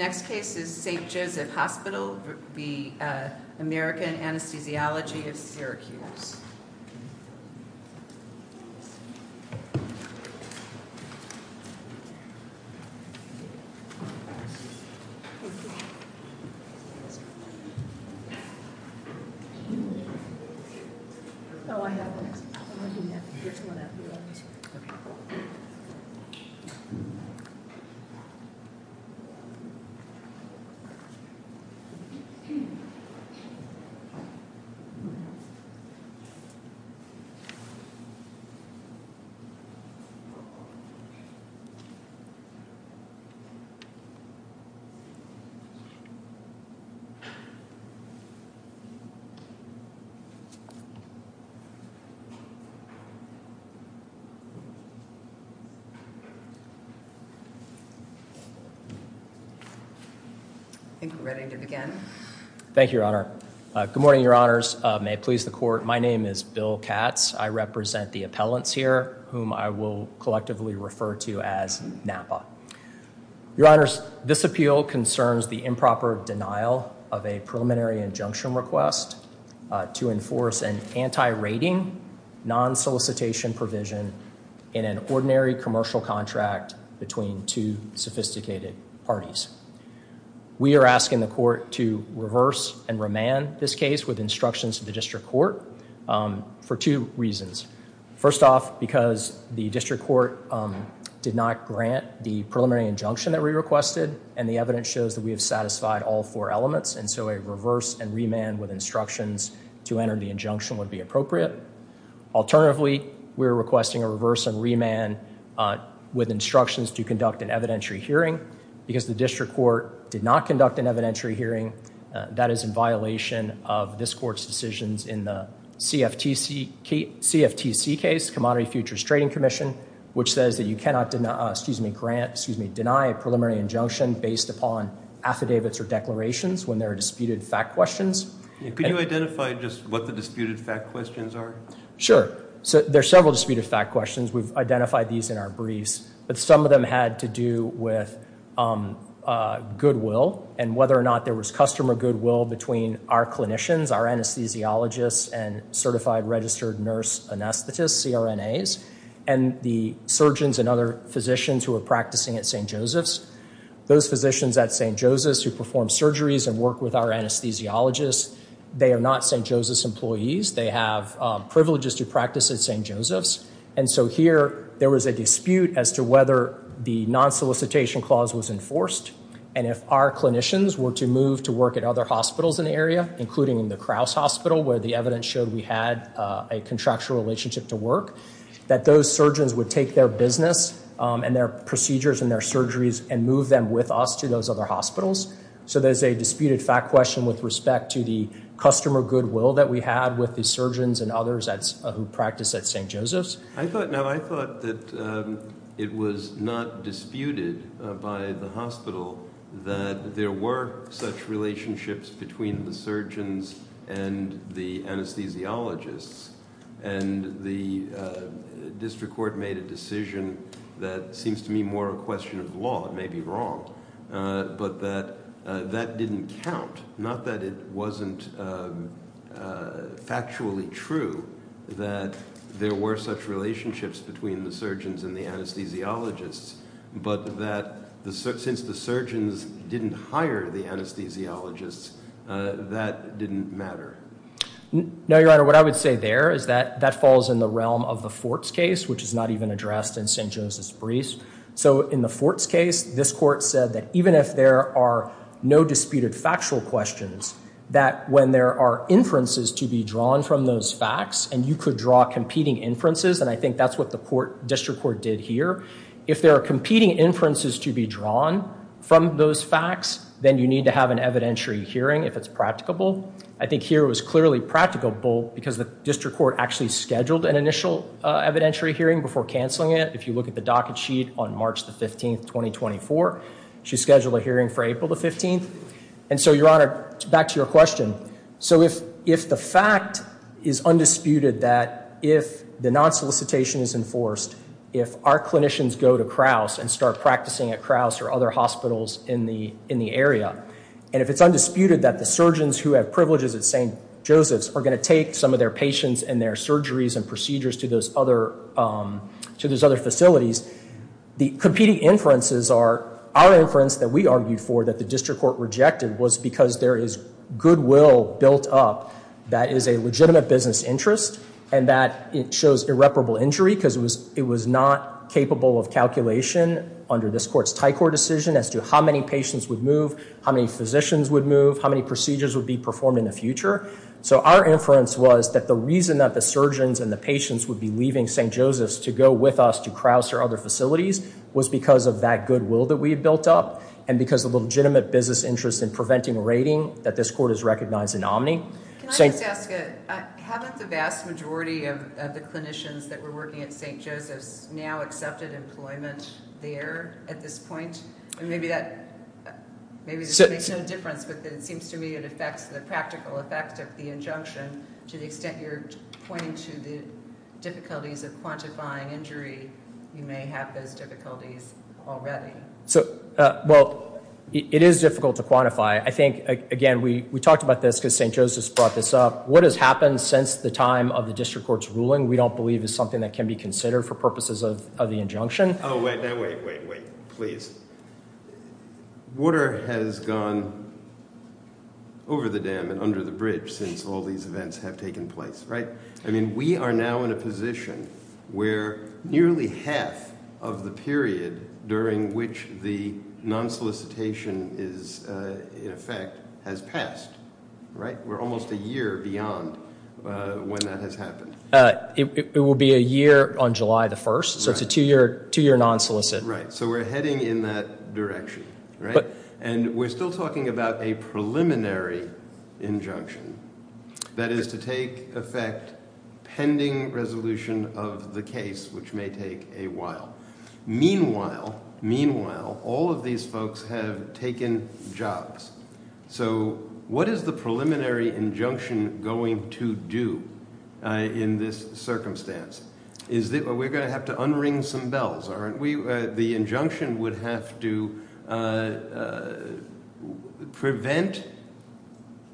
St. Joseph's Hospital Health Center v. American Anesthesiology of Syracuse, P.C St. Joseph's Hospital Health Center v. American Anesthesiology of Syracuse, P.C I think we're ready to begin. Thank you, Your Honor. Good morning, Your Honors. May it please the Court. My name is Bill Katz. I represent the appellants here, whom I will collectively refer to as NAPA. Your Honors, this appeal concerns the improper denial of a preliminary injunction request to enforce an anti-rating, non-solicitation provision in an ordinary commercial contract between two sophisticated parties. We are asking the Court to reverse and remand this case with instructions to the District Court for two reasons. First off, because the District Court did not grant the preliminary injunction that we requested and the evidence shows that we have satisfied all four elements, and so a reverse and remand with instructions to enter the injunction would be appropriate. Alternatively, we are requesting a reverse and remand with instructions to conduct an evidentiary hearing. Because the District Court did not conduct an evidentiary hearing, that is in violation of this Court's decisions in the CFTC case, Commodity Futures Trading Commission, which says that you cannot deny a preliminary injunction based upon affidavits or declarations when there are disputed fact questions. Could you identify just what the disputed fact questions are? Sure. There are several disputed fact questions. We've identified these in our briefs, but some of them had to do with goodwill and whether or not there was customer goodwill between our clinicians, our anesthesiologists and certified registered nurse anesthetists, CRNAs, and the surgeons and other physicians who are practicing at St. Joseph's. Those physicians at St. Joseph's who perform surgeries and work with our anesthesiologists, they are not St. Joseph's employees. They have privileges to practice at St. Joseph's. And so here, there was a dispute as to whether the non-solicitation clause was enforced, and if our clinicians were to move to work at other hospitals in the area, including in the Krause Hospital where the evidence showed we had a contractual relationship to work, that those surgeons would take their business and their procedures and their surgeries and move them with us to those other hospitals. So there's a disputed fact question with respect to the customer goodwill that we had with the surgeons and others who practice at St. Joseph's. Now, I thought that it was not disputed by the hospital that there were such relationships between the surgeons and the anesthesiologists, and the district court made a decision that seems to me more a question of law. It may be wrong, but that that didn't count, not that it wasn't factually true that there were such relationships between the surgeons and the anesthesiologists, but that since the surgeons didn't hire the anesthesiologists, that didn't matter. No, Your Honor, what I would say there is that that falls in the realm of the Forts case, which is not even addressed in St. Joseph's briefs. So in the Forts case, this court said that even if there are no disputed factual questions, that when there are inferences to be drawn from those facts, and you could draw competing inferences, and I think that's what the district court did here, if there are competing inferences to be drawn from those facts, then you need to have an evidentiary hearing if it's practicable. I think here it was clearly practicable, because the district court actually scheduled an initial evidentiary hearing before canceling it. If you look at the docket sheet on March the 15th, 2024, she scheduled a hearing for April the 15th. And so, Your Honor, back to your question. So if the fact is undisputed that if the non-solicitation is enforced, if our clinicians go to Crouse and start practicing at Crouse or other hospitals in the area, and if it's undisputed that the surgeons who have privileges at St. Joseph's are going to take some of their patients and their surgeries and procedures to those other facilities, the competing inferences are our inference that we argued for that the district court rejected was because there is goodwill built up that is a legitimate business interest, and that it shows irreparable injury, because it was not capable of calculation under this court's Thai Court decision as to how many patients would move, how many physicians would move, how many procedures would be performed in the future. So our inference was that the reason that the surgeons and the patients would be leaving St. Joseph's to go with us to Crouse or other facilities was because of that goodwill that we had built up, and because of the legitimate business interest in preventing raiding that this court has recognized in Omni. Can I just ask, haven't the vast majority of the clinicians that were working at St. Joseph's now accepted employment there at this point? Maybe that makes no difference, but it seems to me it affects the practical effect of the injunction to the extent you're pointing to the difficulties of quantifying injury, you may have those difficulties already. Well, it is difficult to quantify. I think, again, we talked about this because St. Joseph's brought this up. What has happened since the time of the district court's ruling we don't believe is something that can be considered for purposes of the injunction. Oh, wait, wait, wait, wait, please. Water has gone over the dam and under the bridge since all these events have taken place, right? I mean, we are now in a position where nearly half of the period during which the non-solicitation is in effect has passed, right? We're almost a year beyond when that has happened. It will be a year on July 1st, so it's a two-year non-solicit. Right, so we're heading in that direction, right? And we're still talking about a preliminary injunction that is to take effect pending resolution of the case, which may take a while. Meanwhile, meanwhile, all of these folks have taken jobs. So what is the preliminary injunction going to do in this circumstance? We're going to have to unring some bells, aren't we? The injunction would have to prevent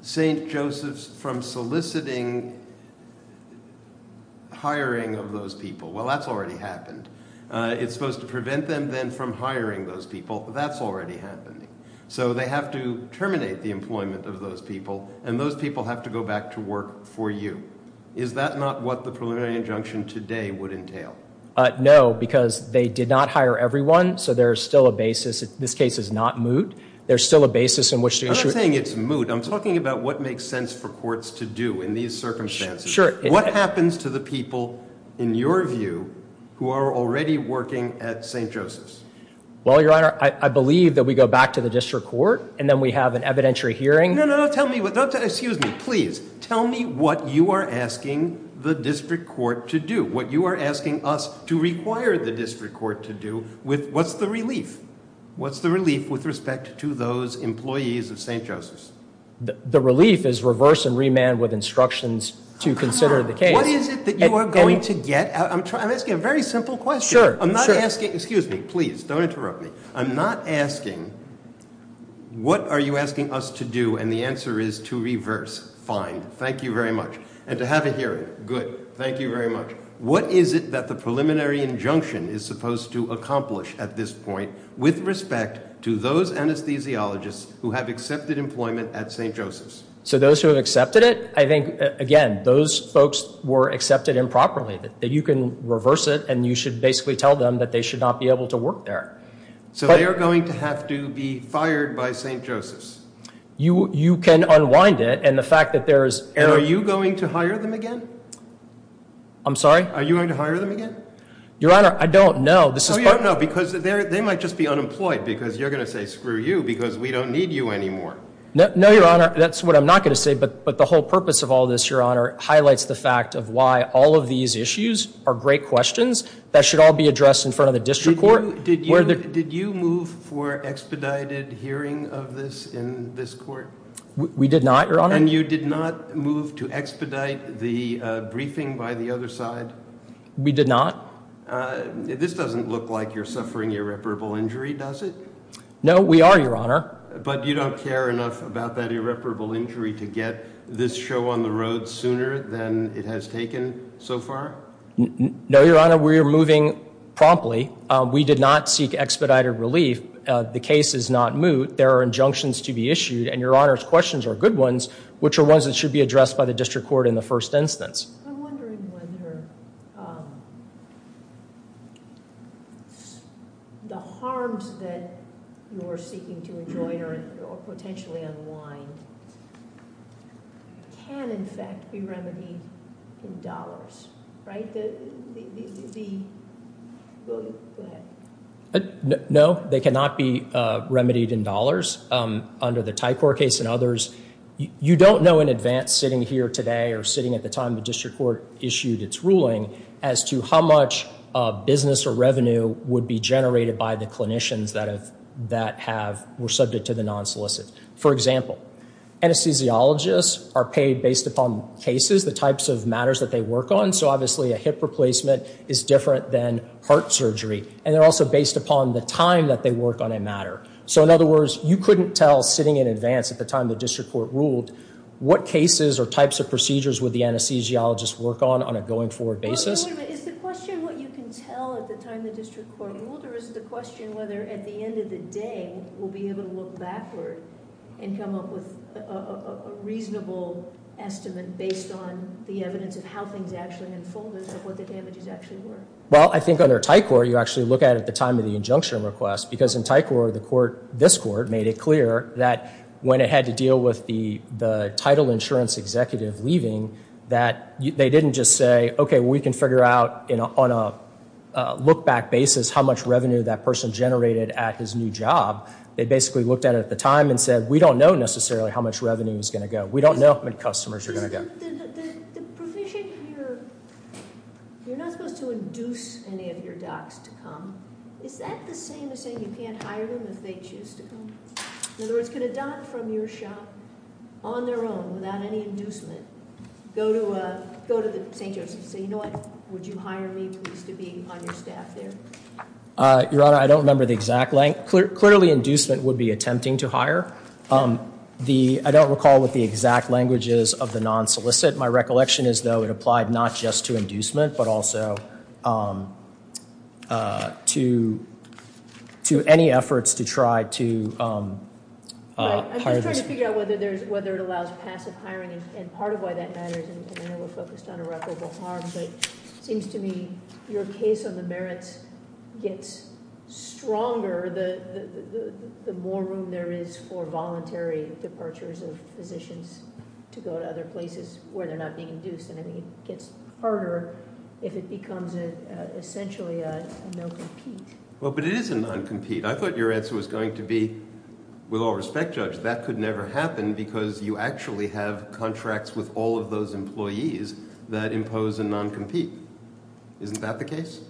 St. Joseph's from soliciting hiring of those people. Well, that's already happened. It's supposed to prevent them then from hiring those people. That's already happened. So they have to terminate the employment of those people, and those people have to go back to work for you. Is that not what the preliminary injunction today would entail? No, because they did not hire everyone, so there's still a basis. This case is not moot. There's still a basis in which to issue it. I'm not saying it's moot. I'm talking about what makes sense for courts to do in these circumstances. What happens to the people, in your view, who are already working at St. Joseph's? Well, Your Honor, I believe that we go back to the district court, and then we have an evidentiary hearing. No, no, no. Excuse me. Please tell me what you are asking the district court to do, what you are asking us to require the district court to do. What's the relief? What's the relief with respect to those employees of St. Joseph's? The relief is reverse and remand with instructions to consider the case. What is it that you are going to get? I'm asking a very simple question. I'm not asking. Excuse me. Please don't interrupt me. I'm not asking what are you asking us to do, and the answer is to reverse. Fine. Thank you very much. And to have a hearing. Good. Thank you very much. What is it that the preliminary injunction is supposed to accomplish at this point with respect to those anesthesiologists who have accepted employment at St. Joseph's? So those who have accepted it, I think, again, those folks were accepted improperly. You can reverse it, and you should basically tell them that they should not be able to work there. So they are going to have to be fired by St. Joseph's? You can unwind it, and the fact that there is – And are you going to hire them again? I'm sorry? Are you going to hire them again? Your Honor, I don't know. No, you don't know because they might just be unemployed because you're going to say, screw you, because we don't need you anymore. No, Your Honor. That's what I'm not going to say, but the whole purpose of all this, Your Honor, highlights the fact of why all of these issues are great questions that should all be addressed in front of the district court. Did you move for expedited hearing of this in this court? We did not, Your Honor. And you did not move to expedite the briefing by the other side? We did not. This doesn't look like you're suffering irreparable injury, does it? No, we are, Your Honor. But you don't care enough about that irreparable injury to get this show on the road sooner than it has taken so far? No, Your Honor, we are moving promptly. We did not seek expedited relief. The case is not moot. There are injunctions to be issued, and Your Honor's questions are good ones, which are ones that should be addressed by the district court in the first instance. I'm wondering whether the harms that you're seeking to enjoin or potentially unwind can, in fact, be remedied in dollars, right? No, they cannot be remedied in dollars under the Tycor case and others. You don't know in advance sitting here today or sitting at the time the district court issued its ruling as to how much business or revenue would be generated by the clinicians that were subject to the non-solicit. For example, anesthesiologists are paid based upon cases, the types of matters that they work on. So, obviously, a hip replacement is different than heart surgery, and they're also based upon the time that they work on a matter. So, in other words, you couldn't tell sitting in advance at the time the district court ruled what cases or types of procedures would the anesthesiologist work on on a going-forward basis. Is the question what you can tell at the time the district court ruled, or is the question whether at the end of the day we'll be able to look backward and come up with a reasonable estimate based on the evidence of how things actually unfolded and what the damages actually were? Well, I think under Tycor, you actually look at it at the time of the injunction request, because in Tycor, this court made it clear that when it had to deal with the title insurance executive leaving that they didn't just say, okay, we can figure out on a look-back basis how much revenue that person generated at his new job. They basically looked at it at the time and said, we don't know necessarily how much revenue is going to go. We don't know how many customers you're going to get. The provision here, you're not supposed to induce any of your docs to come. Is that the same as saying you can't hire them if they choose to come? In other words, could a doc from your shop on their own without any inducement go to St. Joseph's and say, you know what, would you hire me please to be on your staff there? Your Honor, I don't remember the exact language. Clearly inducement would be attempting to hire. I don't recall what the exact language is of the non-solicit. My recollection is, though, it applied not just to inducement but also to any efforts to try to hire. I'm just trying to figure out whether it allows passive hiring and part of why that matters. I know we're focused on irreparable harm, but it seems to me your case on the merits gets stronger the more room there is for voluntary departures of physicians to go to other places where they're not being induced, and I think it gets harder if it becomes essentially a non-compete. But it is a non-compete. I thought your answer was going to be, with all respect, Judge, that could never happen because you actually have contracts with all of those employees that impose a non-compete. Isn't that the case?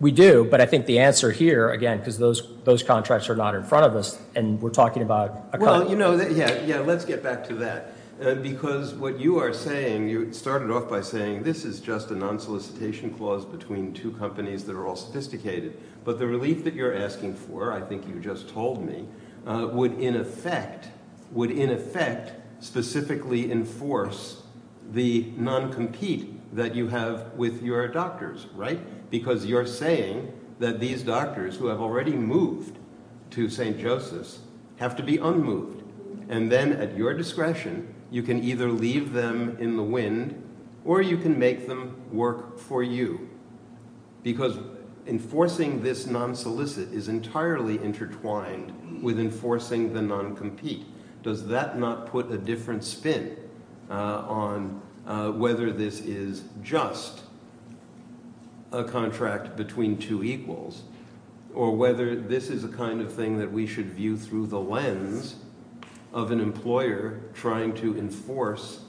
We do, but I think the answer here, again, because those contracts are not in front of us and we're talking about a company. Well, you know, yeah, let's get back to that because what you are saying, you started off by saying this is just a non-solicitation clause between two companies that are all sophisticated, but the relief that you're asking for, I think you just told me, would in effect specifically enforce the non-compete that you have with your doctors, right? Because you're saying that these doctors who have already moved to St. Joseph's have to be unmoved, and then at your discretion you can either leave them in the wind or you can make them work for you because enforcing this non-solicit is entirely intertwined with enforcing the non-compete. Does that not put a different spin on whether this is just a contract between two equals or whether this is a kind of thing that we should view through the lens of an employer trying to enforce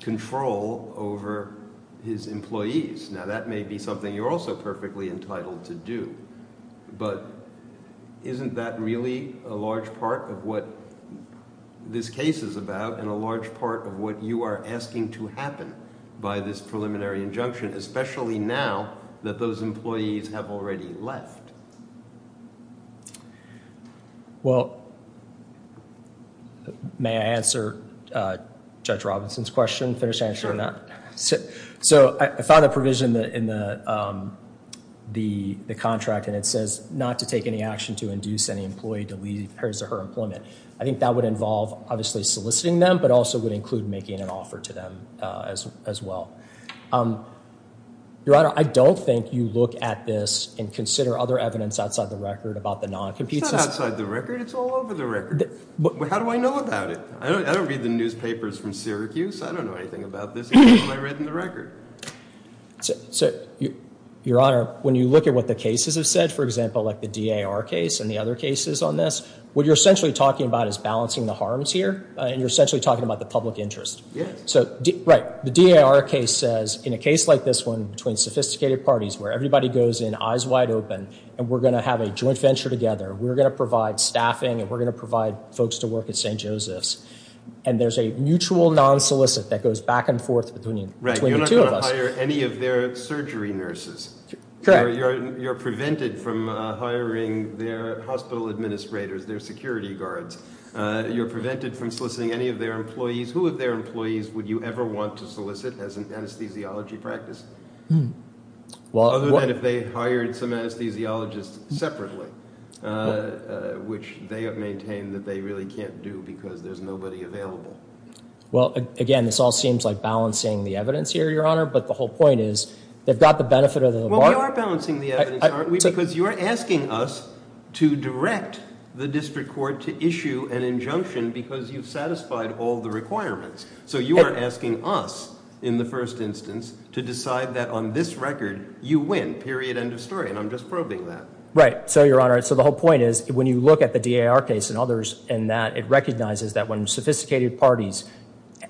control over his employees? Now, that may be something you're also perfectly entitled to do, but isn't that really a large part of what this case is about and a large part of what you are asking to happen by this preliminary injunction, especially now that those employees have already left? Well, may I answer Judge Robinson's question and finish answering that? So I found a provision in the contract, and it says not to take any action to induce any employee to leave in comparison to her employment. I think that would involve obviously soliciting them, but also would include making an offer to them as well. Your Honor, I don't think you look at this and consider other evidence outside the record about the non-compete system. It's not outside the record. It's all over the record. How do I know about it? I don't read the newspapers from Syracuse. I don't know anything about this. It's all I read in the record. Your Honor, when you look at what the cases have said, for example, like the DAR case and the other cases on this, what you're essentially talking about is balancing the harms here, and you're essentially talking about the public interest. Yes. Right. The DAR case says, in a case like this one between sophisticated parties where everybody goes in eyes wide open and we're going to have a joint venture together, we're going to provide staffing, and we're going to provide folks to work at St. Joseph's, and there's a mutual non-solicit that goes back and forth between the two of us. Right. You're not going to hire any of their surgery nurses. Correct. You're prevented from hiring their hospital administrators, their security guards. You're prevented from soliciting any of their employees. Who of their employees would you ever want to solicit as an anesthesiology practice? Hmm. Other than if they hired some anesthesiologists separately, which they have maintained that they really can't do because there's nobody available. Well, again, this all seems like balancing the evidence here, Your Honor, but the whole point is they've got the benefit of the bargain. Well, we are balancing the evidence, aren't we, because you are asking us to direct the district court to issue an injunction because you've satisfied all the requirements. So you are asking us, in the first instance, to decide that on this record you win, period, end of story. And I'm just probing that. Right. So, Your Honor, so the whole point is when you look at the DAR case and others in that, it recognizes that when sophisticated parties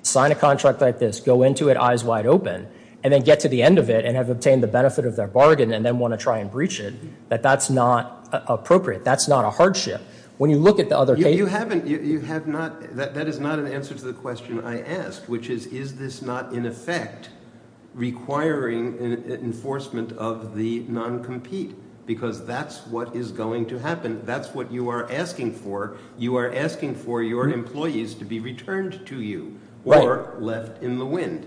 sign a contract like this, go into it eyes wide open, and then get to the end of it and have obtained the benefit of their bargain and then want to try and breach it, that that's not appropriate. That's not a hardship. When you look at the other cases— You haven't—you have not—that is not an answer to the question I asked, which is, is this not, in effect, requiring enforcement of the non-compete because that's what is going to happen. That's what you are asking for. You are asking for your employees to be returned to you or left in the wind.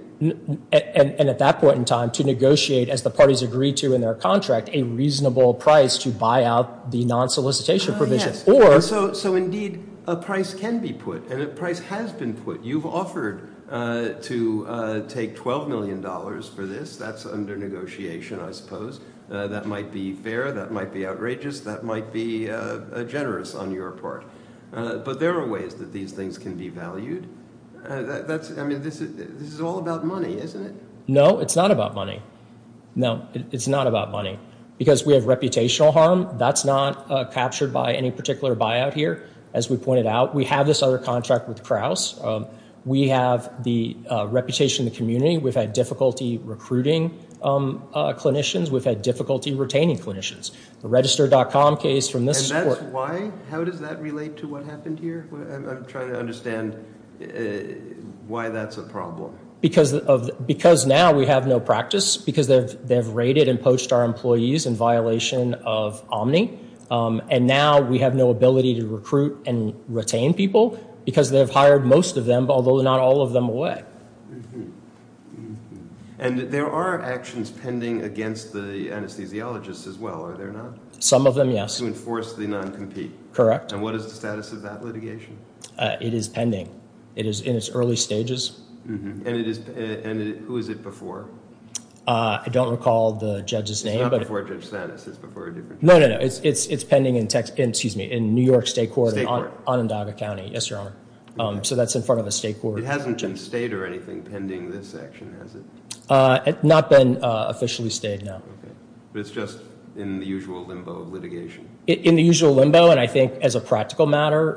And at that point in time, to negotiate, as the parties agree to in their contract, a reasonable price to buy out the non-solicitation provision or— So, indeed, a price can be put and a price has been put. You've offered to take $12 million for this. That's under negotiation, I suppose. That might be fair. That might be outrageous. That might be generous on your part. But there are ways that these things can be valued. That's—I mean, this is all about money, isn't it? No, it's not about money. No, it's not about money because we have reputational harm. That's not captured by any particular buyout here. As we pointed out, we have this other contract with Krauss. We have the reputation in the community. We've had difficulty recruiting clinicians. We've had difficulty retaining clinicians. The register.com case from this court— And that's why? How does that relate to what happened here? I'm trying to understand why that's a problem. Because now we have no practice because they've raided and poached our employees in violation of Omni. And now we have no ability to recruit and retain people because they've hired most of them, although not all of them away. And there are actions pending against the anesthesiologists as well, are there not? Some of them, yes. To enforce the non-compete. Correct. And what is the status of that litigation? It is pending. It is in its early stages. And who is it before? I don't recall the judge's name, but— It's not before Judge Stanis. It's before a different judge. No, no, no. It's pending in New York State Court. State Court. Onondaga County. Yes, Your Honor. So that's in front of a state court. It hasn't been stayed or anything pending this action, has it? Not been officially stayed, no. But it's just in the usual limbo of litigation? In the usual limbo, and I think as a practical matter,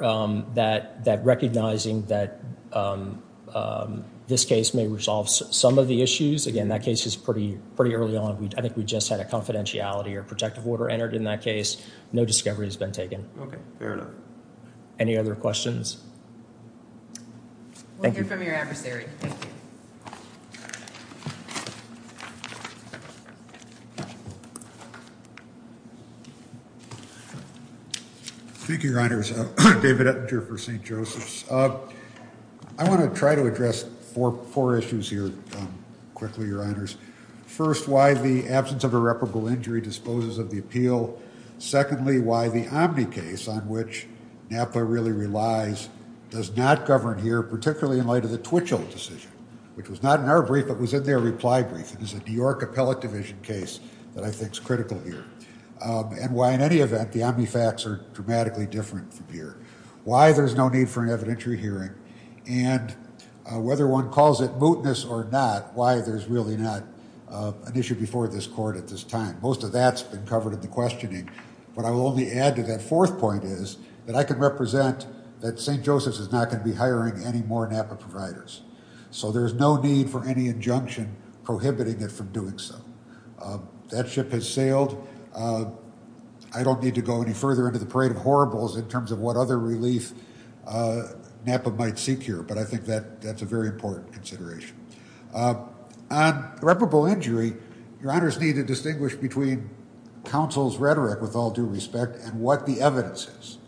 that recognizing that this case may resolve some of the issues. Again, that case is pretty early on. I think we just had a confidentiality or protective order entered in that case. No discovery has been taken. Okay, fair enough. Any other questions? Thank you. We'll hear from your adversary. Thank you, Your Honors. David Ettinger for St. Joseph's. I want to try to address four issues here quickly, Your Honors. First, why the absence of irreparable injury disposes of the appeal. Secondly, why the Omni case on which NAPA really relies does not govern here, particularly in light of the Twitchell decision, which was not in our brief, but was in their reply brief. It was a New York Appellate Division case that I think is critical here. And why, in any event, the Omni facts are dramatically different from here. Why there's no need for an evidentiary hearing. And whether one calls it mootness or not, why there's really not an issue before this court at this time. Most of that's been covered in the questioning. What I will only add to that fourth point is that I can represent that St. Joseph's is not going to be hiring any more NAPA providers. So there's no need for any injunction prohibiting it from doing so. That ship has sailed. I don't need to go any further into the parade of horribles in terms of what other relief NAPA might seek here, but I think that's a very important consideration. On irreparable injury, your honors need to distinguish between counsel's rhetoric with all due respect and what the evidence is.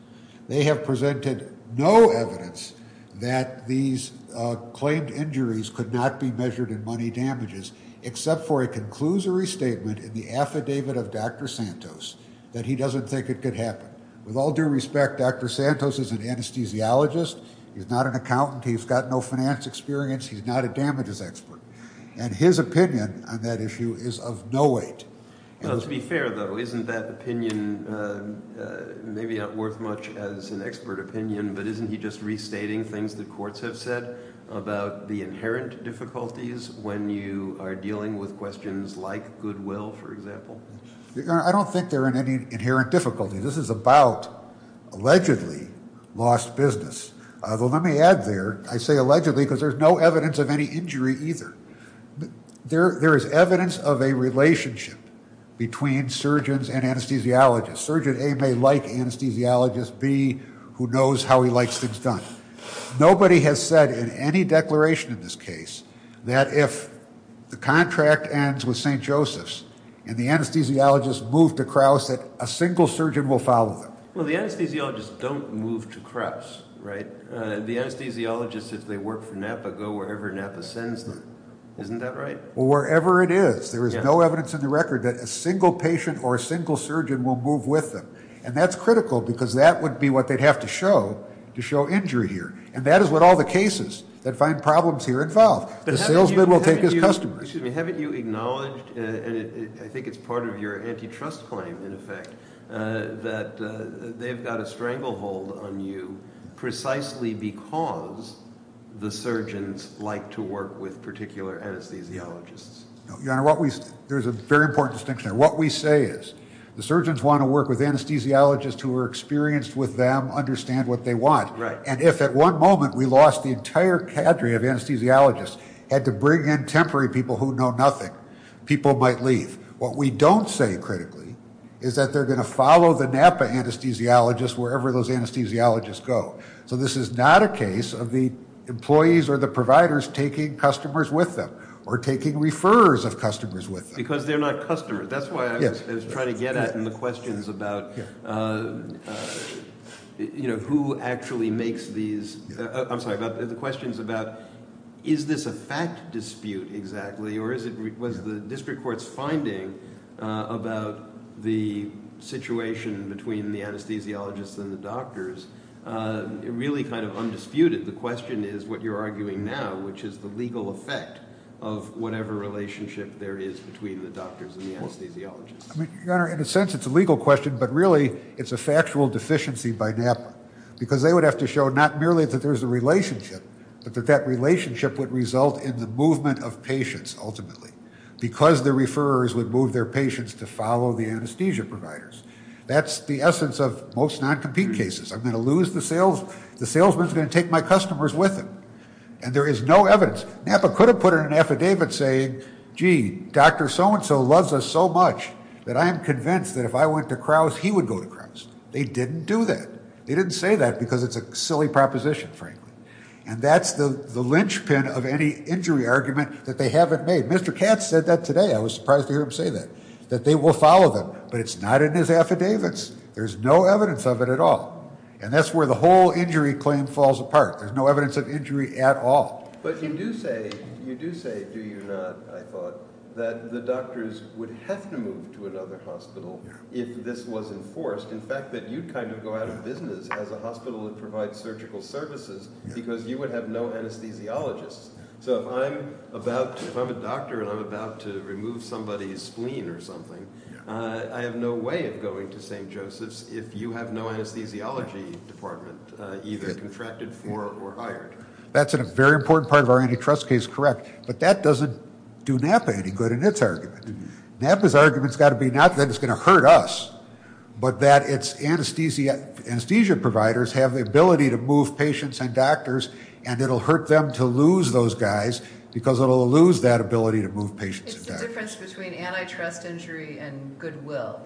They have presented no evidence that these claimed injuries could not be measured in money damages, except for a conclusory statement in the affidavit of Dr. Santos, that he doesn't think it could happen. With all due respect, Dr. Santos is an anesthesiologist. He's not an accountant. He's got no finance experience. He's not a damages expert. And his opinion on that issue is of no weight. To be fair, though, isn't that opinion maybe not worth much as an expert opinion, but isn't he just restating things that courts have said about the inherent difficulties when you are dealing with questions like goodwill, for example? I don't think there are any inherent difficulties. This is about allegedly lost business. Well, let me add there. I say allegedly because there's no evidence of any injury either. There is evidence of a relationship between surgeons and anesthesiologists. Surgeon A may like anesthesiologists. B, who knows how he likes things done. Nobody has said in any declaration in this case that if the contract ends with St. Joseph's and the anesthesiologists move to Crouse, that a single surgeon will follow them. Well, the anesthesiologists don't move to Crouse, right? The anesthesiologists, if they work for NAPA, go wherever NAPA sends them. Isn't that right? Well, wherever it is, there is no evidence in the record that a single patient or a single surgeon will move with them. And that's critical because that would be what they'd have to show to show injury here. And that is what all the cases that find problems here involve. The salesman will take his customers. Excuse me. Haven't you acknowledged, and I think it's part of your antitrust claim, in effect, that they've got a stranglehold on you precisely because the surgeons like to work with particular anesthesiologists? Your Honor, there's a very important distinction there. What we say is the surgeons want to work with anesthesiologists who are experienced with them, understand what they want. And if at one moment we lost the entire cadre of anesthesiologists, had to bring in temporary people who know nothing, people might leave. What we don't say critically is that they're going to follow the NAPA anesthesiologists wherever those anesthesiologists go. So this is not a case of the employees or the providers taking customers with them or taking referrers of customers with them. Because they're not customers. That's why I was trying to get at in the questions about who actually makes these. I'm sorry, the questions about is this a fact dispute exactly or was the district court's finding about the situation between the anesthesiologists and the doctors really kind of undisputed? The question is what you're arguing now, which is the legal effect of whatever relationship there is between the doctors and the anesthesiologists. Your Honor, in a sense it's a legal question, but really it's a factual deficiency by NAPA. Because they would have to show not merely that there's a relationship, but that that relationship would result in the movement of patients ultimately. Because the referrers would move their patients to follow the anesthesia providers. That's the essence of most non-compete cases. I'm going to lose the salesman who's going to take my customers with him. And there is no evidence. NAPA could have put in an affidavit saying, gee, Dr. So-and-so loves us so much that I am convinced that if I went to Crouse, he would go to Crouse. They didn't do that. They didn't say that because it's a silly proposition, frankly. And that's the linchpin of any injury argument that they haven't made. Mr. Katz said that today. I was surprised to hear him say that, that they will follow them. But it's not in his affidavits. There's no evidence of it at all. And that's where the whole injury claim falls apart. There's no evidence of injury at all. But you do say, do you not, I thought, that the doctors would have to move to another hospital if this was enforced. In fact, that you'd kind of go out of business as a hospital and provide surgical services because you would have no anesthesiologists. So if I'm a doctor and I'm about to remove somebody's spleen or something, I have no way of going to St. Joseph's if you have no anesthesiology department, either contracted for or hired. That's a very important part of our antitrust case, correct. But that doesn't do NAPA any good in its argument. NAPA's argument has got to be not that it's going to hurt us, but that its anesthesia providers have the ability to move patients and doctors and it will hurt them to lose those guys because it will lose that ability to move patients and doctors. It's the difference between antitrust injury and goodwill.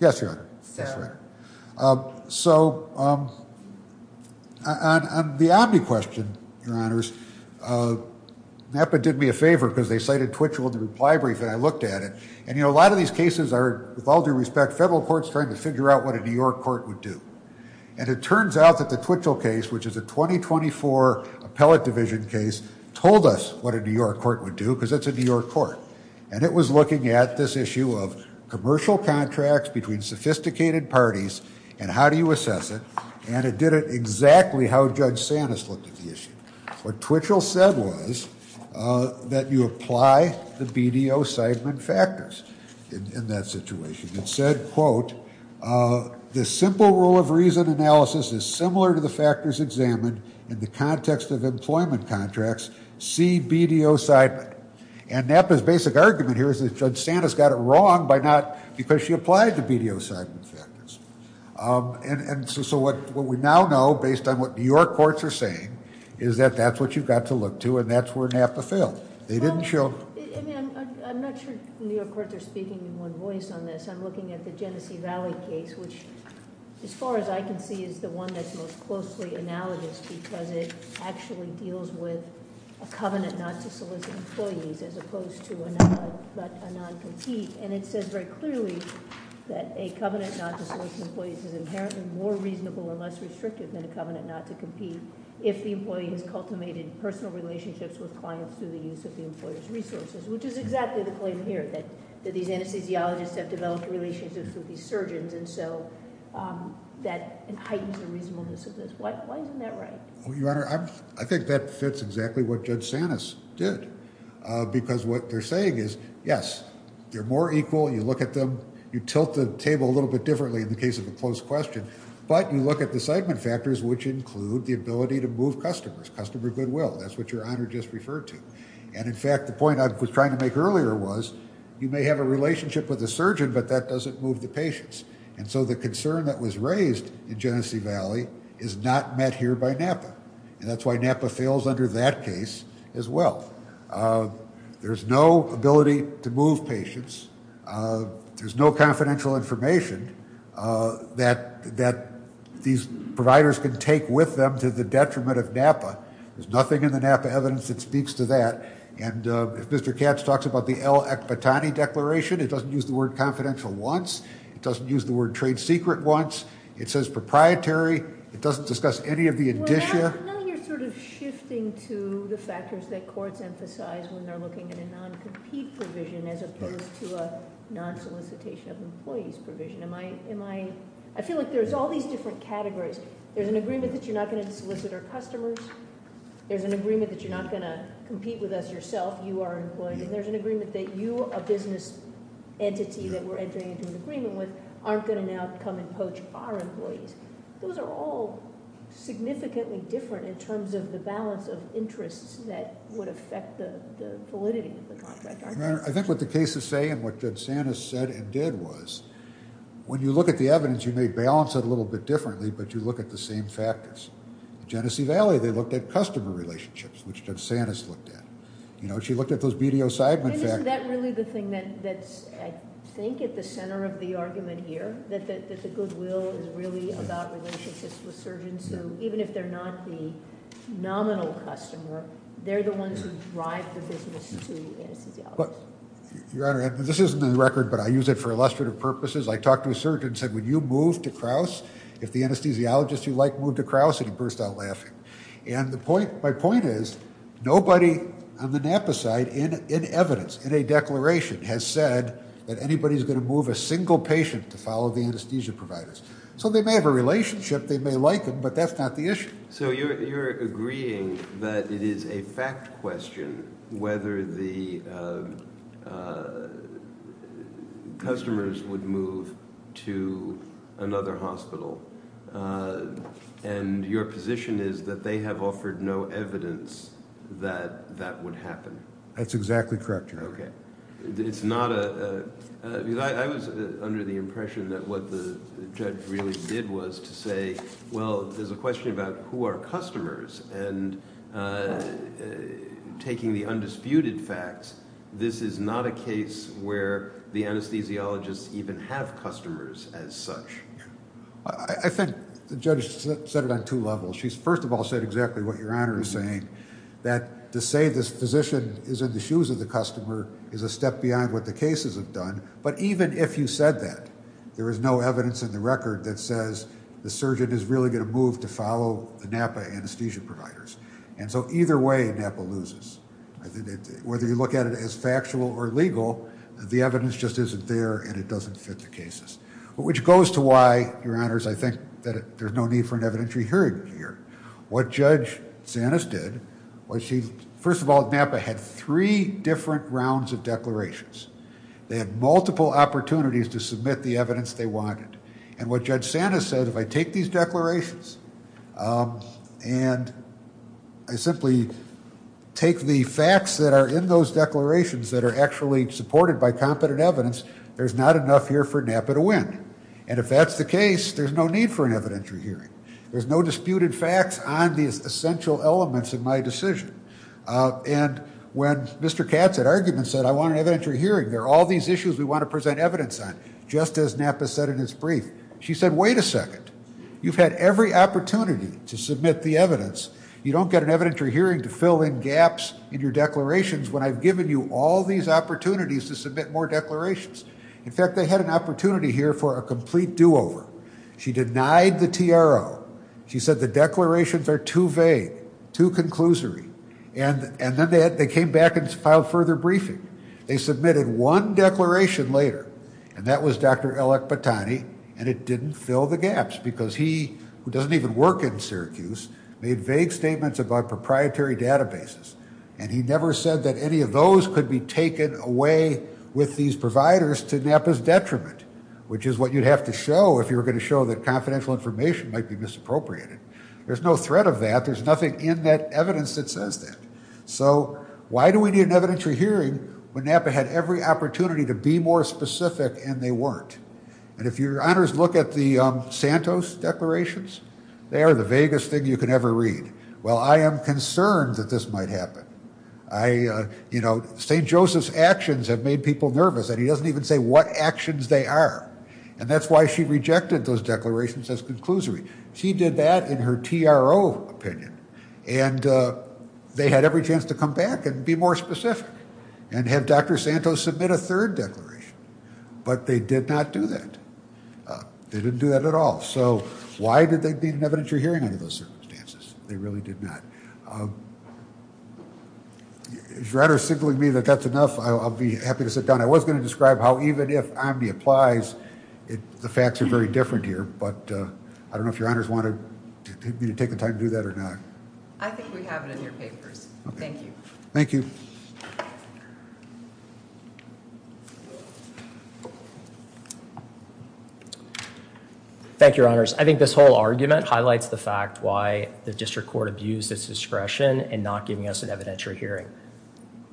Yes, Your Honor. So on the Omni question, Your Honors, NAPA did me a favor because they cited Twitchell in the reply brief, and I looked at it. And, you know, a lot of these cases are, with all due respect, federal courts trying to figure out what a New York court would do. And it turns out that the Twitchell case, which is a 2024 appellate division case, told us what a New York court would do because it's a New York court. And it was looking at this issue of commercial contracts between sophisticated parties and how do you assess it, and it did it exactly how Judge Sanis looked at the issue. What Twitchell said was that you apply the BDO-Seidman factors in that situation. It said, quote, The simple rule of reason analysis is similar to the factors examined in the context of employment contracts. See BDO-Seidman. And NAPA's basic argument here is that Judge Sanis got it wrong because she applied the BDO-Seidman factors. And so what we now know, based on what New York courts are saying, is that that's what you've got to look to, and that's where NAPA failed. They didn't show- I mean, I'm not sure New York courts are speaking in one voice on this. I'm looking at the Genesee Valley case, which, as far as I can see, is the one that's most closely analogous because it actually deals with a covenant not to solicit employees as opposed to a non-compete. And it says very clearly that a covenant not to solicit employees is inherently more reasonable and less restrictive than a covenant not to compete if the employee has cultivated personal relationships with clients through the use of the employer's resources, which is exactly the claim here, that these anesthesiologists have developed relationships with these surgeons, and so that heightens the reasonableness of this. Why isn't that right? Your Honor, I think that fits exactly what Judge Sanis did because what they're saying is, yes, they're more equal. You look at them. You tilt the table a little bit differently in the case of a closed question, but you look at the segment factors, which include the ability to move customers, customer goodwill. That's what Your Honor just referred to. And, in fact, the point I was trying to make earlier was you may have a relationship with a surgeon, but that doesn't move the patients, and so the concern that was raised in Genesee Valley is not met here by NAPA, and that's why NAPA fails under that case as well. There's no ability to move patients. There's no confidential information that these providers can take with them to the detriment of NAPA. There's nothing in the NAPA evidence that speaks to that, and if Mr. Katz talks about the L. Akbitani Declaration, it doesn't use the word confidential once. It doesn't use the word trade secret once. It says proprietary. It doesn't discuss any of the indicia. Well, now you're sort of shifting to the factors that courts emphasize when they're looking at a non-compete provision as opposed to a non-solicitation of employees provision. I feel like there's all these different categories. There's an agreement that you're not going to solicit our customers. There's an agreement that you're not going to compete with us yourself. You are employed. And there's an agreement that you, a business entity that we're entering into an agreement with, aren't going to now come and poach our employees. Those are all significantly different in terms of the balance of interests that would affect the validity of the contract, aren't they? I think what the cases say and what Judge Santis said and did was when you look at the evidence, you may balance it a little bit differently, but you look at the same factors. In Genesee Valley, they looked at customer relationships, which Judge Santis looked at. She looked at those BDO-Seidman factors. Isn't that really the thing that's, I think, at the center of the argument here, that the goodwill is really about relationships with surgeons who, even if they're not the nominal customer, they're the ones who drive the business to anesthesiologists? Your Honor, this isn't in the record, but I use it for illustrative purposes. I talked to a surgeon and said, would you move to Krauss if the anesthesiologist you like moved to Krauss? And he burst out laughing. My point is nobody on the NAPA side in evidence, in a declaration, has said that anybody's going to move a single patient to follow the anesthesia providers. So they may have a relationship, they may like them, but that's not the issue. So you're agreeing that it is a fact question whether the customers would move to another hospital, and your position is that they have offered no evidence that that would happen? That's exactly correct, Your Honor. It's not a – I was under the impression that what the judge really did was to say, well, there's a question about who are customers, and taking the undisputed facts, this is not a case where the anesthesiologists even have customers as such. I think the judge said it on two levels. She, first of all, said exactly what Your Honor is saying, that to say this physician is in the shoes of the customer is a step beyond what the cases have done, but even if you said that, there is no evidence in the record that says the surgeon is really going to move to follow the NAPA anesthesia providers. And so either way, NAPA loses. Whether you look at it as factual or legal, the evidence just isn't there, and it doesn't fit the cases. Which goes to why, Your Honors, I think that there's no need for an evidentiary hearing here. What Judge Sanis did was she – first of all, NAPA had three different rounds of declarations. They had multiple opportunities to submit the evidence they wanted, and what Judge Sanis said, if I take these declarations, and I simply take the facts that are in those declarations that are actually supported by competent evidence, there's not enough here for NAPA to win. And if that's the case, there's no need for an evidentiary hearing. There's no disputed facts on these essential elements of my decision. And when Mr. Katz at argument said, I want an evidentiary hearing, there are all these issues we want to present evidence on, just as NAPA said in its brief. She said, wait a second. You've had every opportunity to submit the evidence. You don't get an evidentiary hearing to fill in gaps in your declarations when I've given you all these opportunities to submit more declarations. In fact, they had an opportunity here for a complete do-over. She denied the TRO. She said the declarations are too vague, too conclusory. And then they came back and filed further briefing. They submitted one declaration later, and that was Dr. Elek Batani, and it didn't fill the gaps because he, who doesn't even work in Syracuse, made vague statements about proprietary databases, and he never said that any of those could be taken away with these providers to NAPA's detriment, which is what you'd have to show if you were going to show that confidential information might be misappropriated. There's no threat of that. There's nothing in that evidence that says that. So why do we need an evidentiary hearing when NAPA had every opportunity to be more specific and they weren't? And if your honors look at the Santos declarations, they are the vaguest thing you can ever read. Well, I am concerned that this might happen. St. Joseph's actions have made people nervous, and he doesn't even say what actions they are, and that's why she rejected those declarations as conclusory. She did that in her TRO opinion, and they had every chance to come back and be more specific and have Dr. Santos submit a third declaration, but they did not do that. They didn't do that at all. So why did they need an evidentiary hearing under those circumstances? They really did not. Is your honors signaling me that that's enough? I'll be happy to sit down. I was going to describe how even if OMB applies, the facts are very different here, but I don't know if your honors want me to take the time to do that or not. I think we have it in your papers. Thank you. Thank you. Thank you, your honors. I think this whole argument highlights the fact why the district court abused its discretion in not giving us an evidentiary hearing.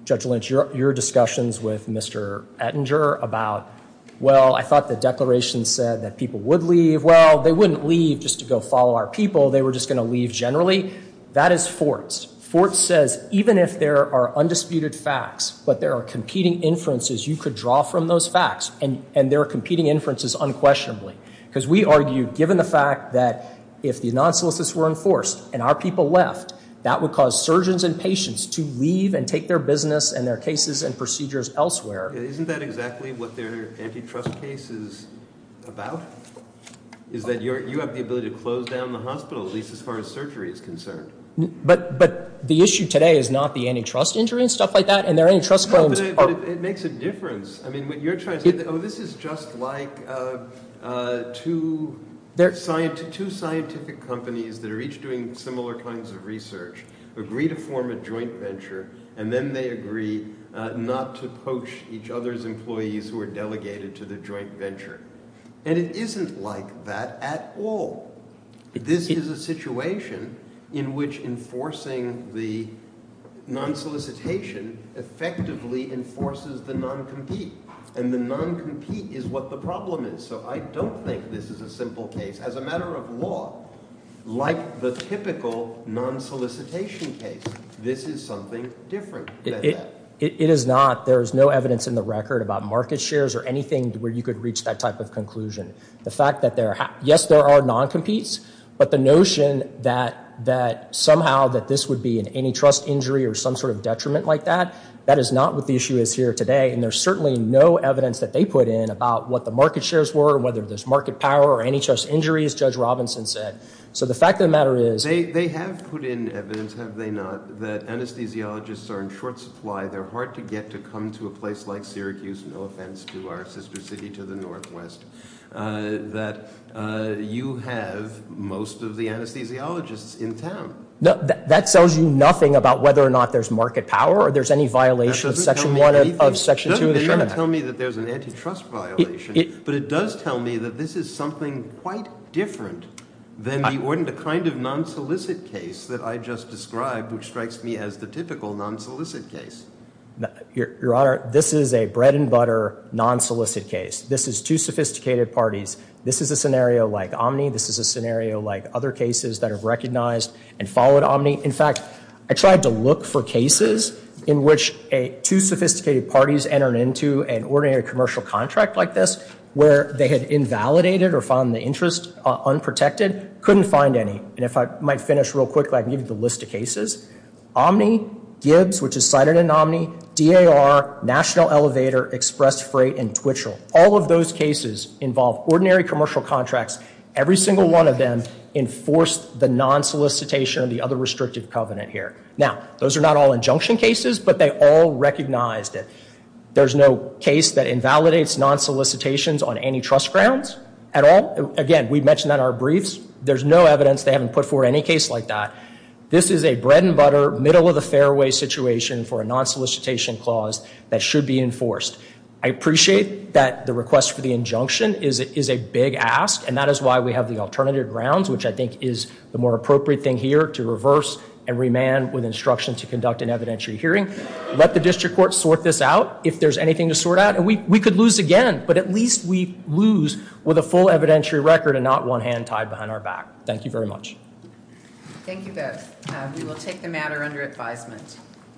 Judge Lynch, your discussions with Mr. Ettinger about, well, I thought the declaration said that people would leave. Well, they wouldn't leave just to go follow our people. They were just going to leave generally. That is forced. Forced says even if there are undisputed facts, but there are competing inferences, you could draw from those facts, and there are competing inferences unquestionably, because we argue given the fact that if the non-solicits were enforced and our people left, that would cause surgeons and patients to leave and take their business and their cases and procedures elsewhere. Isn't that exactly what their antitrust case is about, is that you have the ability to close down the hospital, at least as far as surgery is concerned? But the issue today is not the antitrust injury and stuff like that. No, but it makes a difference. I mean, what you're trying to say, oh, this is just like two scientific companies that are each doing similar kinds of research agree to form a joint venture, and then they agree not to poach each other's employees who are delegated to the joint venture. And it isn't like that at all. This is a situation in which enforcing the non-solicitation effectively enforces the non-compete, and the non-compete is what the problem is. So I don't think this is a simple case. As a matter of law, like the typical non-solicitation case, this is something different than that. It is not. There is no evidence in the record about market shares or anything where you could reach that type of conclusion. The fact that, yes, there are non-competes, but the notion that somehow this would be an antitrust injury or some sort of detriment like that, that is not what the issue is here today, and there's certainly no evidence that they put in about what the market shares were or whether there's market power or antitrust injuries, Judge Robinson said. So the fact of the matter is... They have put in evidence, have they not, that anesthesiologists are in short supply. They're hard to get to come to a place like Syracuse, no offense to our sister city to the northwest, that you have most of the anesthesiologists in town. That tells you nothing about whether or not there's market power or there's any violation of Section 1 of Section 2 of the Sherman Act. It doesn't tell me that there's an antitrust violation, but it does tell me that this is something quite different than the kind of non-solicit case that I just described, which strikes me as the typical non-solicit case. Your Honor, this is a bread and butter non-solicit case. This is two sophisticated parties. This is a scenario like Omni, this is a scenario like other cases that are recognized, and followed Omni. In fact, I tried to look for cases in which two sophisticated parties entered into an ordinary commercial contract like this where they had invalidated or found the interest unprotected. Couldn't find any. And if I might finish real quickly, I can give you the list of cases. Omni, Gibbs, which is cited in Omni, DAR, National Elevator, Express Freight, and Twitchell. All of those cases involve ordinary commercial contracts. Every single one of them enforced the non-solicitation of the other restrictive covenant here. Now, those are not all injunction cases, but they all recognized it. There's no case that invalidates non-solicitations on antitrust grounds at all. Again, we've mentioned that in our briefs. There's no evidence they haven't put forward any case like that. This is a bread and butter, middle-of-the-fairway situation for a non-solicitation clause that should be enforced. I appreciate that the request for the injunction is a big ask, and that is why we have the alternative grounds, which I think is the more appropriate thing here to reverse and remand with instruction to conduct an evidentiary hearing. Let the district court sort this out if there's anything to sort out. And we could lose again, but at least we lose with a full evidentiary record and not one hand tied behind our back. Thank you very much. Thank you both. We will take the matter under advisement.